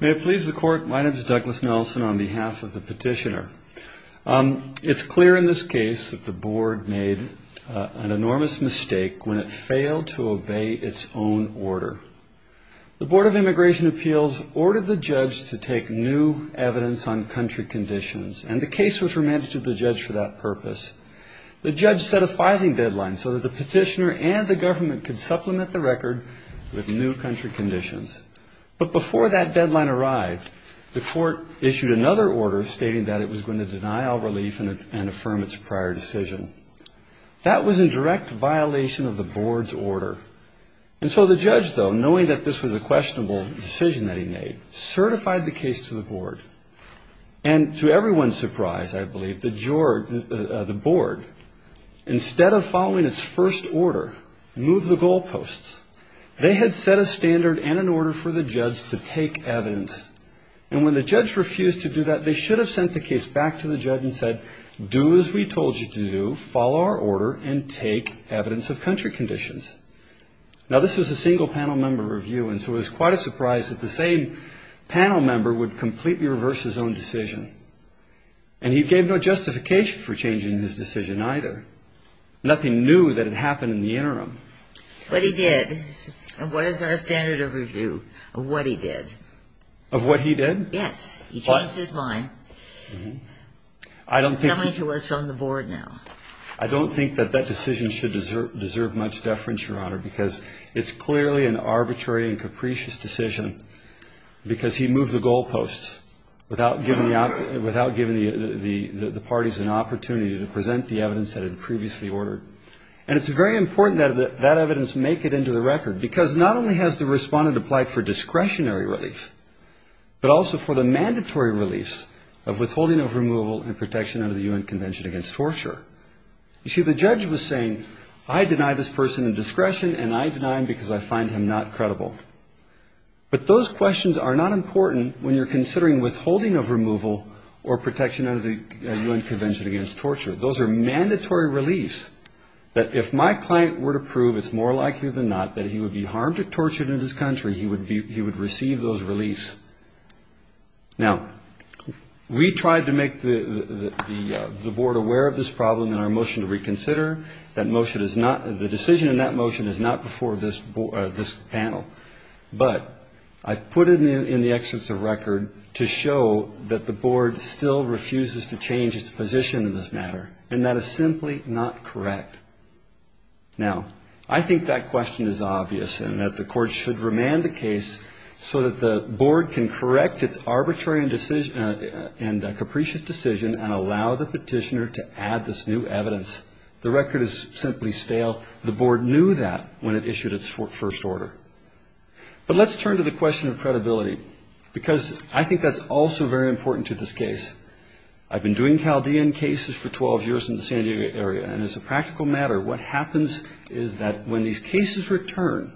May it please the Court, my name is Douglas Nelson on behalf of the petitioner. It's clear in this case that the Board made an enormous mistake when it failed to obey its own order. The Board of Immigration Appeals ordered the judge to take new evidence on country conditions, and the case was remanded to the judge for that purpose. The judge set a filing deadline so that the petitioner and the government could supplement the record with new country conditions. But before that deadline arrived, the court issued another order stating that it was going to deny all relief and affirm its prior decision. That was in direct violation of the Board's order. And so the judge, though, knowing that this was a questionable decision that he made, certified the case to the Board. And to everyone's surprise, I believe, the Board, instead of following its first order, moved the goal posts. They had set a standard and an order for the judge to take evidence. And when the judge refused to do that, they should have sent the case back to the judge and said, do as we told you to do, follow our order, and take evidence of country conditions. Now, this was a single panel member review, and so it was quite a surprise that the same panel member would completely reverse his own decision. And he gave no justification for changing his decision either. Nothing new that had happened in the interim. But he did. And what is our standard of review of what he did? Of what he did? Yes. He changed his mind. He's coming to us from the Board now. I don't think that that decision should deserve much deference, Your Honor, because it's clearly an arbitrary and capricious decision because he moved the goal posts without giving the parties an opportunity to present the evidence that had previously ordered. And it's very important that that evidence make it into the record, because not only has the respondent applied for discretionary relief, but also for the mandatory relief of withholding of removal and protection under the U.N. Convention Against Torture. You see, the judge was saying, I deny this person a discretion, and I deny him because I find him not credible. But those questions are not important when you're considering withholding of removal or protection under the U.N. Convention Against Torture. Those are mandatory reliefs that if my client were to prove, it's more likely than not, that he would be harmed or tortured in his country, he would receive those reliefs. Now, we tried to make the Board aware of this problem in our motion to reconsider. That motion is not, the decision in that motion is not before this panel. But I put it in the excerpts of record to show that the Board still refuses to change its position in this matter, and that is simply not correct. Now, I think that question is obvious and that the Court should remand the case so that the Board can correct its arbitrary and capricious decision and allow the petitioner to add this new evidence. The record is simply stale. The Board knew that when it issued its first order. But let's turn to the question of credibility, because I think that's also very important to this case. I've been doing Chaldean cases for 12 years in the San Diego area, and as a practical matter, what happens is that when these cases return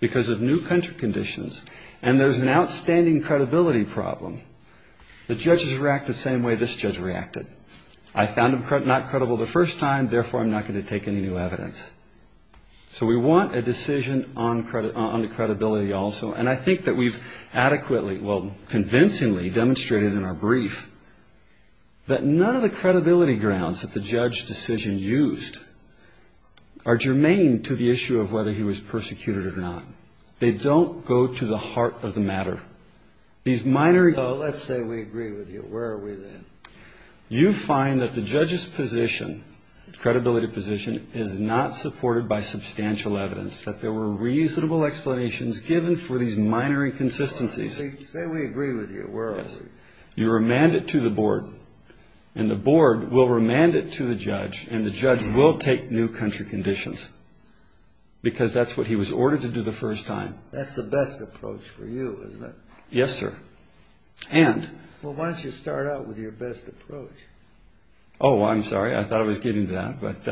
because of new country conditions and there's an outstanding credibility problem, the judges react the same way this judge reacted. I found him not credible the first time, therefore, I'm not going to take any new evidence. So we want a decision on credibility also. And I think that we've adequately, well, convincingly demonstrated in our brief that none of the credibility grounds that the judge's decision used are germane to the issue of whether he was persecuted or not. They don't go to the heart of the matter. These minor... So let's say we agree with you. Where are we then? You find that the judge's position, credibility position, is not supported by substantial evidence, that there were reasonable explanations given for these minor inconsistencies. Say we agree with you. Where are we? You remand it to the Board, and the Board will remand it to the judge, and the judge will take new country conditions because that's what he was ordered to do the first time. That's the best approach for you, isn't it? Yes, sir. And... Well, why don't you start out with your best approach? Oh, I'm sorry. I thought I was getting to that. But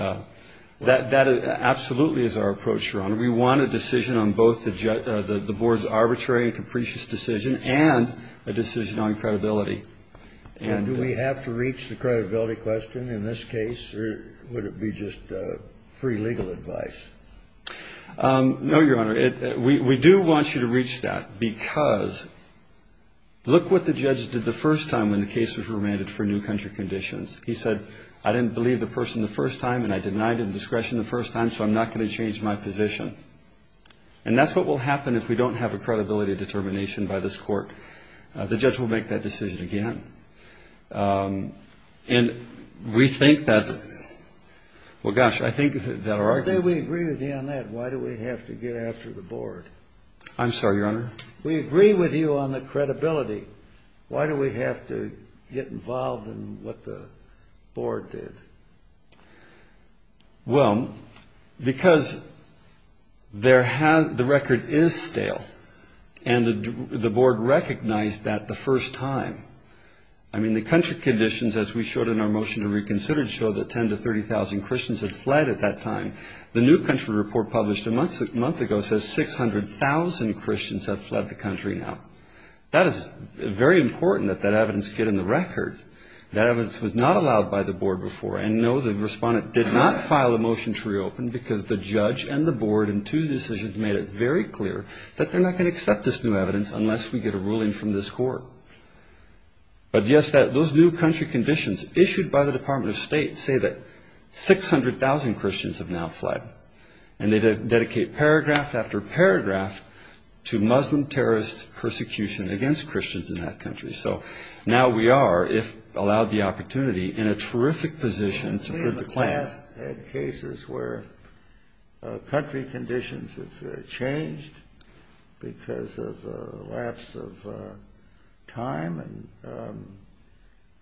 that absolutely is our approach, Your Honor. We want a decision on both the Board's arbitrary and capricious decision and a decision on credibility. And do we have to reach the credibility question in this case, or would it be just free legal advice? No, Your Honor. We do want you to reach that because look what the judge did the first time when the case was remanded for new country conditions. He said, I didn't believe the person the first time, and I denied it in discretion the first time, so I'm not going to change my position. And that's what will happen if we don't have a credibility determination by this Court. The judge will make that decision again. And we think that, well, gosh, I think that our argument... I'm sorry, Your Honor. We agree with you on the credibility. Why do we have to get involved in what the Board did? Well, because the record is stale, and the Board recognized that the first time. I mean, the country conditions, as we showed in our motion to reconsider, show that 10,000 to 30,000 Christians had fled at that time. The new country report published a month ago says 600,000 Christians have fled the country now. That is very important that that evidence get in the record. That evidence was not allowed by the Board before. And, no, the respondent did not file a motion to reopen because the judge and the Board in two decisions made it very clear that they're not going to accept this new evidence unless we get a ruling from this Court. But, yes, those new country conditions issued by the Department of State say that 600,000 Christians have now fled. And they dedicate paragraph after paragraph to Muslim terrorist persecution against Christians in that country. So now we are, if allowed the opportunity, in a terrific position to put the claims...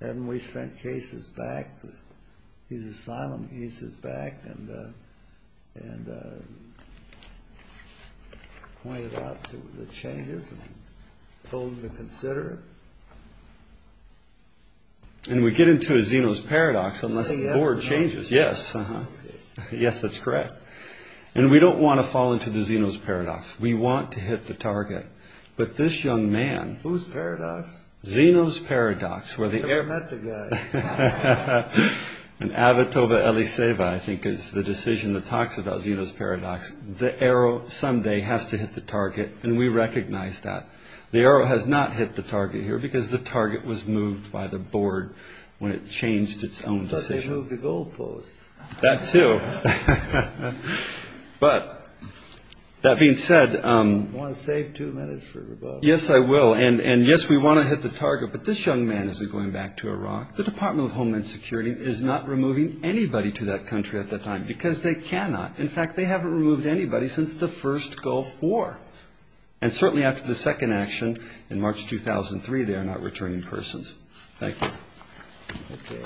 And we sent cases back, these asylum cases back, and pointed out the changes and told them to consider it. And we get into a Zeno's Paradox unless the Board changes. Yes, that's correct. And we don't want to fall into the Zeno's Paradox. We want to hit the target. But this young man... Who's paradox? Zeno's Paradox, where the... I've never met the guy. And Avitova Eliseva, I think, is the decision that talks about Zeno's Paradox. The arrow someday has to hit the target, and we recognize that. The arrow has not hit the target here because the target was moved by the Board when it changed its own decision. I thought they moved the goalposts. That, too. But, that being said... Do you want to save two minutes for rebuttal? Yes, I will. And, yes, we want to hit the target, but this young man isn't going back to Iraq. The Department of Homeland Security is not removing anybody to that country at that time because they cannot. In fact, they haven't removed anybody since the first Gulf War. And certainly after the second action in March 2003, they are not returning persons. Thank you. Okay.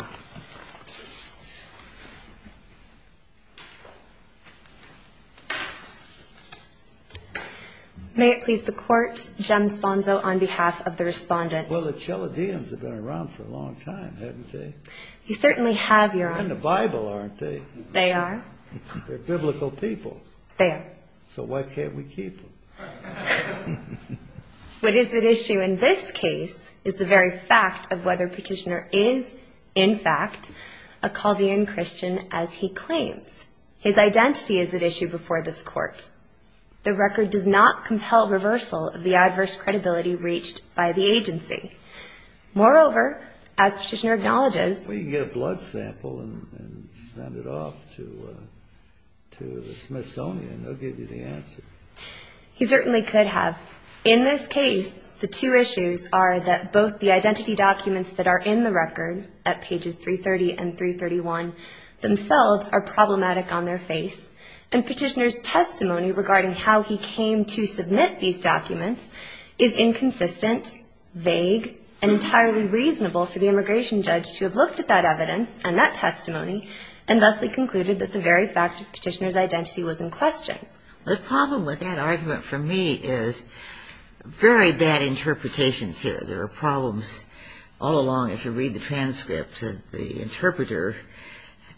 May it please the Court, Jem Sponzo on behalf of the Respondent. Well, the Chaldeans have been around for a long time, haven't they? You certainly have, Your Honor. They're in the Bible, aren't they? They are. They're biblical people. They are. So why can't we keep them? What is at issue in this case is the very fact of whether Petitioner is, in fact, a Chaldean Christian as he claims. His identity is at issue before this Court. The record does not compel reversal of the adverse credibility reached by the agency. Moreover, as Petitioner acknowledges. Well, you can get a blood sample and send it off to the Smithsonian. They'll give you the answer. He certainly could have. In this case, the two issues are that both the identity documents that are in the record at pages 330 and 331 themselves are problematic on their face, and Petitioner's testimony regarding how he came to submit these documents is inconsistent, vague, and entirely reasonable for the immigration judge to have looked at that evidence and that testimony and thusly concluded that the very fact of Petitioner's identity was in question. The problem with that argument for me is very bad interpretations here. There are problems all along. If you read the transcript, the interpreter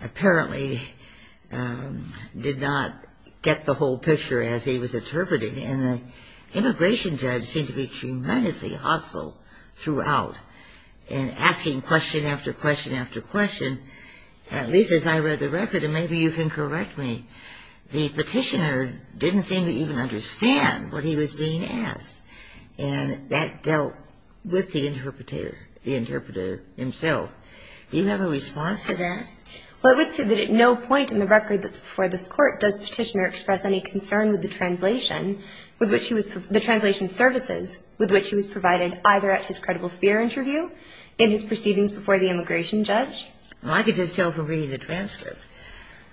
apparently did not get the whole picture as he was interpreting. And the immigration judge seemed to be tremendously hostile throughout in asking question after question after question, at least as I read the record, and maybe you can correct me. The Petitioner didn't seem to even understand what he was being asked. And that dealt with the interpreter, the interpreter himself. Do you have a response to that? Well, I would say that at no point in the record that's before this court does Petitioner express any concern with the translation, the translation services with which he was provided either at his credible fear interview, in his proceedings before the immigration judge. Well, I could just tell from reading the transcript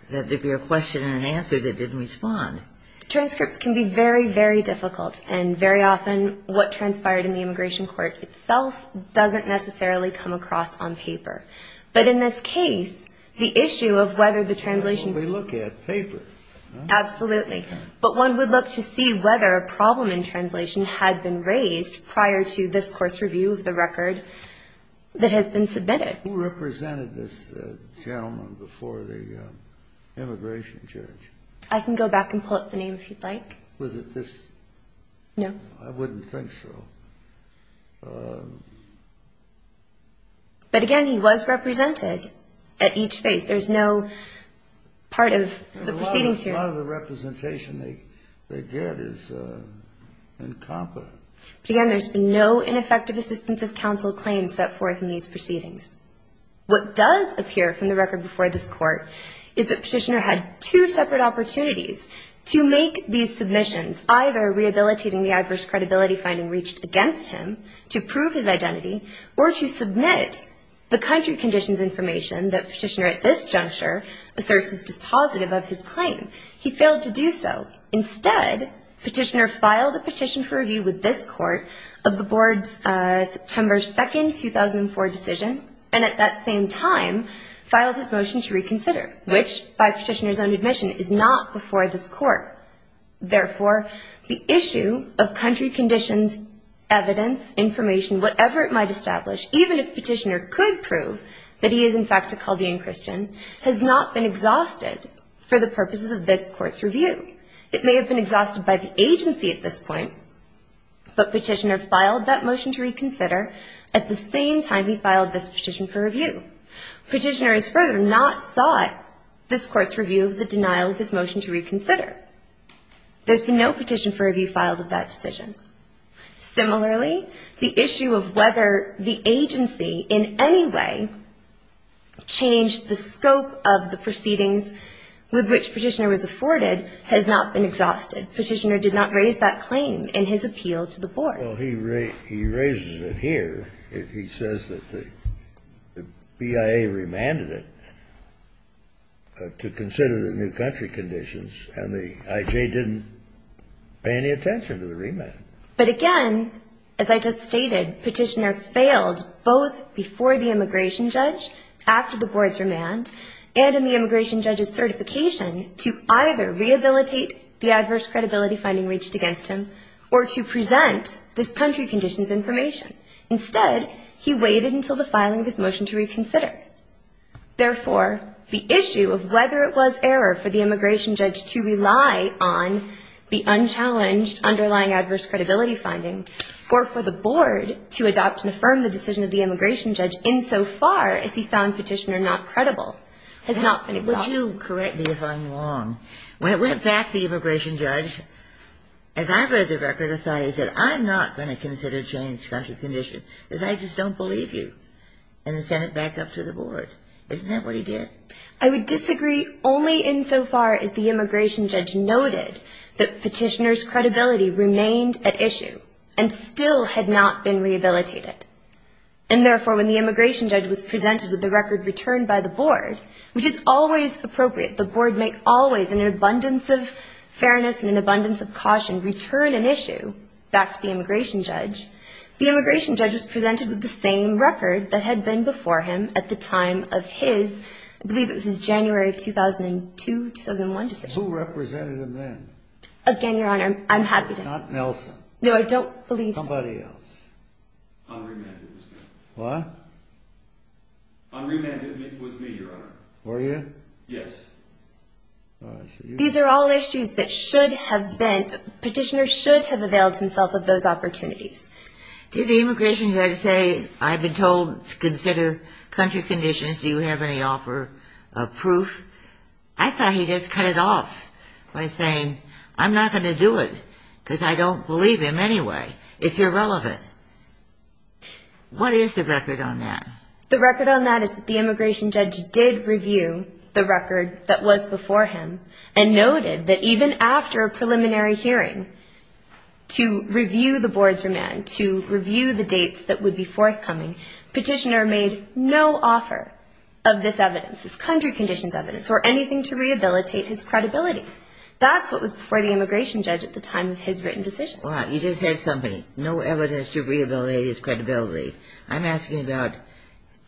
that there'd be a question and an answer that didn't respond. Transcripts can be very, very difficult. And very often what transpired in the immigration court itself doesn't necessarily come across on paper. But in this case, the issue of whether the translation ---- We look at paper. Absolutely. But one would love to see whether a problem in translation had been raised prior to this court's review of the record that has been submitted. Who represented this gentleman before the immigration judge? I can go back and pull up the name if you'd like. Was it this? No. I wouldn't think so. But, again, he was represented at each phase. There's no part of the proceedings here. A lot of the representation they get is incompetent. But, again, there's been no ineffective assistance of counsel claim set forth in these proceedings. What does appear from the record before this court is that Petitioner had two separate opportunities to make these submissions, either rehabilitating the adverse credibility finding reached against him to prove his identity or to submit the country conditions information that Petitioner at this juncture asserts is dispositive of his claim. He failed to do so. Instead, Petitioner filed a petition for review with this court of the board's September 2, 2004 decision and at that same time filed his motion to reconsider, which, by Petitioner's own admission, is not before this court. Therefore, the issue of country conditions evidence, information, whatever it might establish, even if Petitioner could prove that he is, in fact, a Chaldean Christian, has not been exhausted for the purposes of this court's review. It may have been exhausted by the agency at this point, but Petitioner filed that motion to reconsider at the same time he filed this petition for review. Petitioner has further not sought this court's review of the denial of his motion to reconsider. There's been no petition for review filed at that decision. Similarly, the issue of whether the agency in any way changed the scope of the proceedings with which Petitioner was afforded has not been exhausted. Petitioner did not raise that claim in his appeal to the board. Well, he raises it here. He says that the BIA remanded it to consider the new country conditions, and the I.J. didn't pay any attention to the remand. But again, as I just stated, Petitioner failed both before the immigration judge, after the board's remand, and in the immigration judge's certification to either rehabilitate the adverse credibility finding reached against him or to present this country conditions information. Instead, he waited until the filing of his motion to reconsider. Therefore, the issue of whether it was error for the immigration judge to rely on the unchallenged underlying adverse credibility finding or for the board to adopt and affirm the decision of the immigration judge insofar as he found Petitioner not credible has not been exhausted. Would you correct me if I'm wrong? When it went back to the immigration judge, as I read the record, I thought he said, I'm not going to consider changing country conditions because I just don't believe you, and then sent it back up to the board. Isn't that what he did? I would disagree only insofar as the immigration judge noted that Petitioner's credibility remained at issue and still had not been rehabilitated. And therefore, when the immigration judge was presented with the record returned by the board, which is always appropriate, the board may always in an abundance of fairness and an abundance of caution return an issue back to the immigration judge, the immigration judge was presented with the same record that had been before him at the time of his, I believe it was his January of 2002, 2001 decision. Who represented him then? Again, Your Honor, I'm happy to know. Not Nelson. No, I don't believe that. Somebody else. Henri Mendez. What? Henri Mendez was me, Your Honor. Were you? Yes. These are all issues that should have been, Petitioner should have availed himself of those opportunities. Did the immigration judge say, I've been told to consider country conditions. Do you have any offer of proof? I thought he just cut it off by saying, I'm not going to do it because I don't believe him anyway. It's irrelevant. What is the record on that? The record on that is that the immigration judge did review the record that was before him and noted that even after a preliminary hearing to review the board's remand, to review the dates that would be forthcoming, Petitioner made no offer of this evidence, this country conditions evidence or anything to rehabilitate his credibility. That's what was before the immigration judge at the time of his written decision. You just said something, no evidence to rehabilitate his credibility. I'm asking about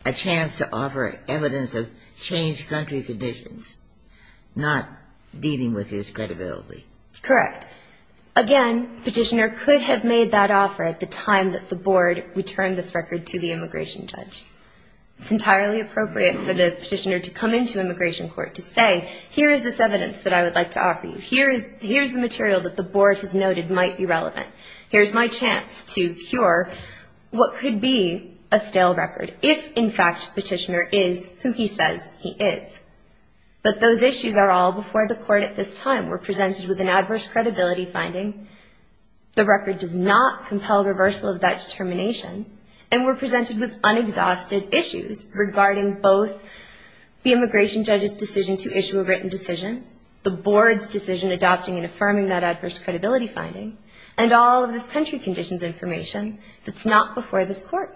a chance to offer evidence of changed country conditions, not dealing with his credibility. Correct. Again, Petitioner could have made that offer at the time that the board returned this record to the immigration judge. It's entirely appropriate for the Petitioner to come into immigration court to say, here is this evidence that I would like to offer you. Here is the material that the board has noted might be relevant. Here is my chance to cure what could be a stale record if, in fact, Petitioner is who he says he is. But those issues are all before the court at this time. We're presented with an adverse credibility finding. The record does not compel reversal of that determination, and we're presented with unexhausted issues regarding both the immigration judge's decision to issue a written decision, the board's decision adopting and affirming that adverse credibility finding, and all of this country conditions information that's not before this court.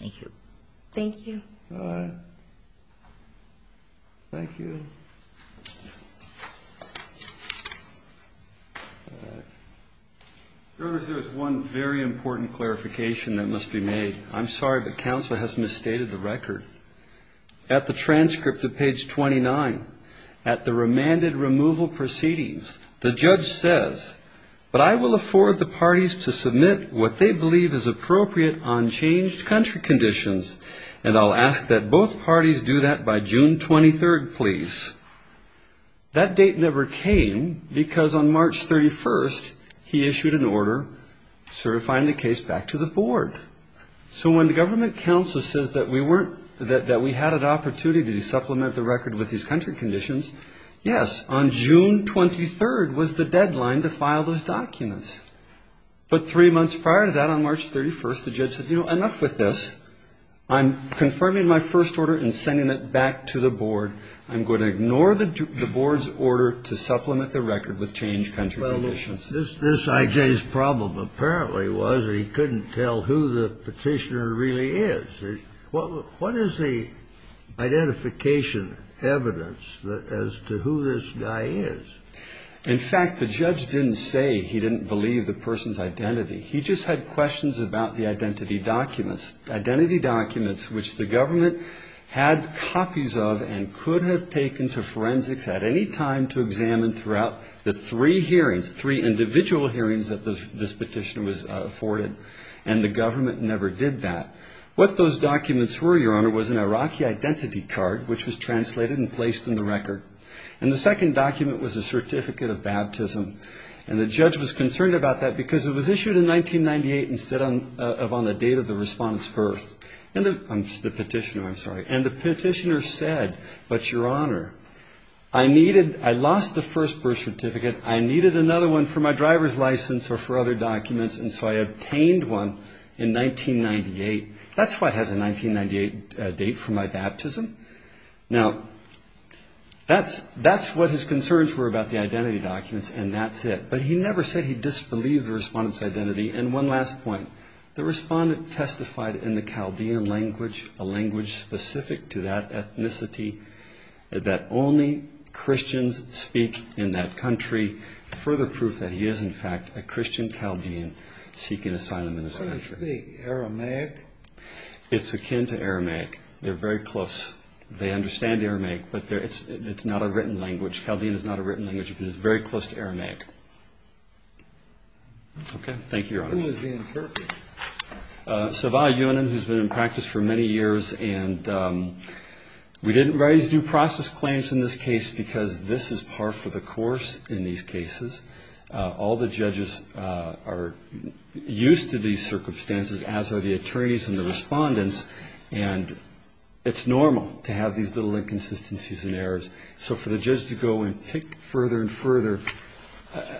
Thank you. Thank you. All right. Thank you. All right. There is one very important clarification that must be made. I'm sorry, but counsel has misstated the record. At the transcript of page 29, at the remanded removal proceedings, the judge says, but I will afford the parties to submit what they believe is appropriate on changed country conditions, and I'll ask that both parties do that by June 23rd, please. That date never came, because on March 31st, he issued an order to refine the case back to the board. So when the government counsel says that we had an opportunity to supplement the record with these country conditions, yes, on June 23rd was the deadline to file those documents. But three months prior to that, on March 31st, the judge said, you know, enough with this. I'm confirming my first order and sending it back to the board. I'm going to ignore the board's order to supplement the record with changed country conditions. This I.J.'s problem apparently was he couldn't tell who the petitioner really is. What is the identification evidence as to who this guy is? In fact, the judge didn't say he didn't believe the person's identity. He just had questions about the identity documents, identity documents which the government had copies of and could have taken to forensics at any time to examine throughout the three hearings, three individual hearings that this petitioner was afforded, and the government never did that. What those documents were, Your Honor, was an Iraqi identity card, which was translated and placed in the record. And the second document was a certificate of baptism. And the judge was concerned about that because it was issued in 1998 instead of on the date of the respondent's birth. And the petitioner, I'm sorry. And the petitioner said, but Your Honor, I lost the first birth certificate. I needed another one for my driver's license or for other documents, and so I obtained one in 1998. That's why it has a 1998 date for my baptism. Now, that's what his concerns were about the identity documents, and that's it. And one last point. The respondent testified in the Chaldean language, a language specific to that ethnicity, that only Christians speak in that country, further proof that he is, in fact, a Christian Chaldean seeking asylum in this country. So you speak Aramaic? It's akin to Aramaic. They're very close. They understand Aramaic, but it's not a written language. Chaldean is not a written language, but it's very close to Aramaic. Okay. Thank you, Your Honor. Who was being interrogated? Savai Yonem, who's been in practice for many years. And we didn't raise due process claims in this case because this is par for the course in these cases. All the judges are used to these circumstances, as are the attorneys and the respondents, and it's normal to have these little inconsistencies and errors. So for the judge to go and pick further and further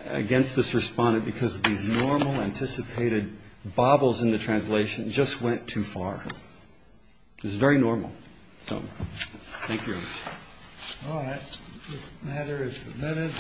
against this respondent because of these normal, anticipated bobbles in the translation just went too far. This is very normal. So thank you, Your Honor. All right. This matter is submitted.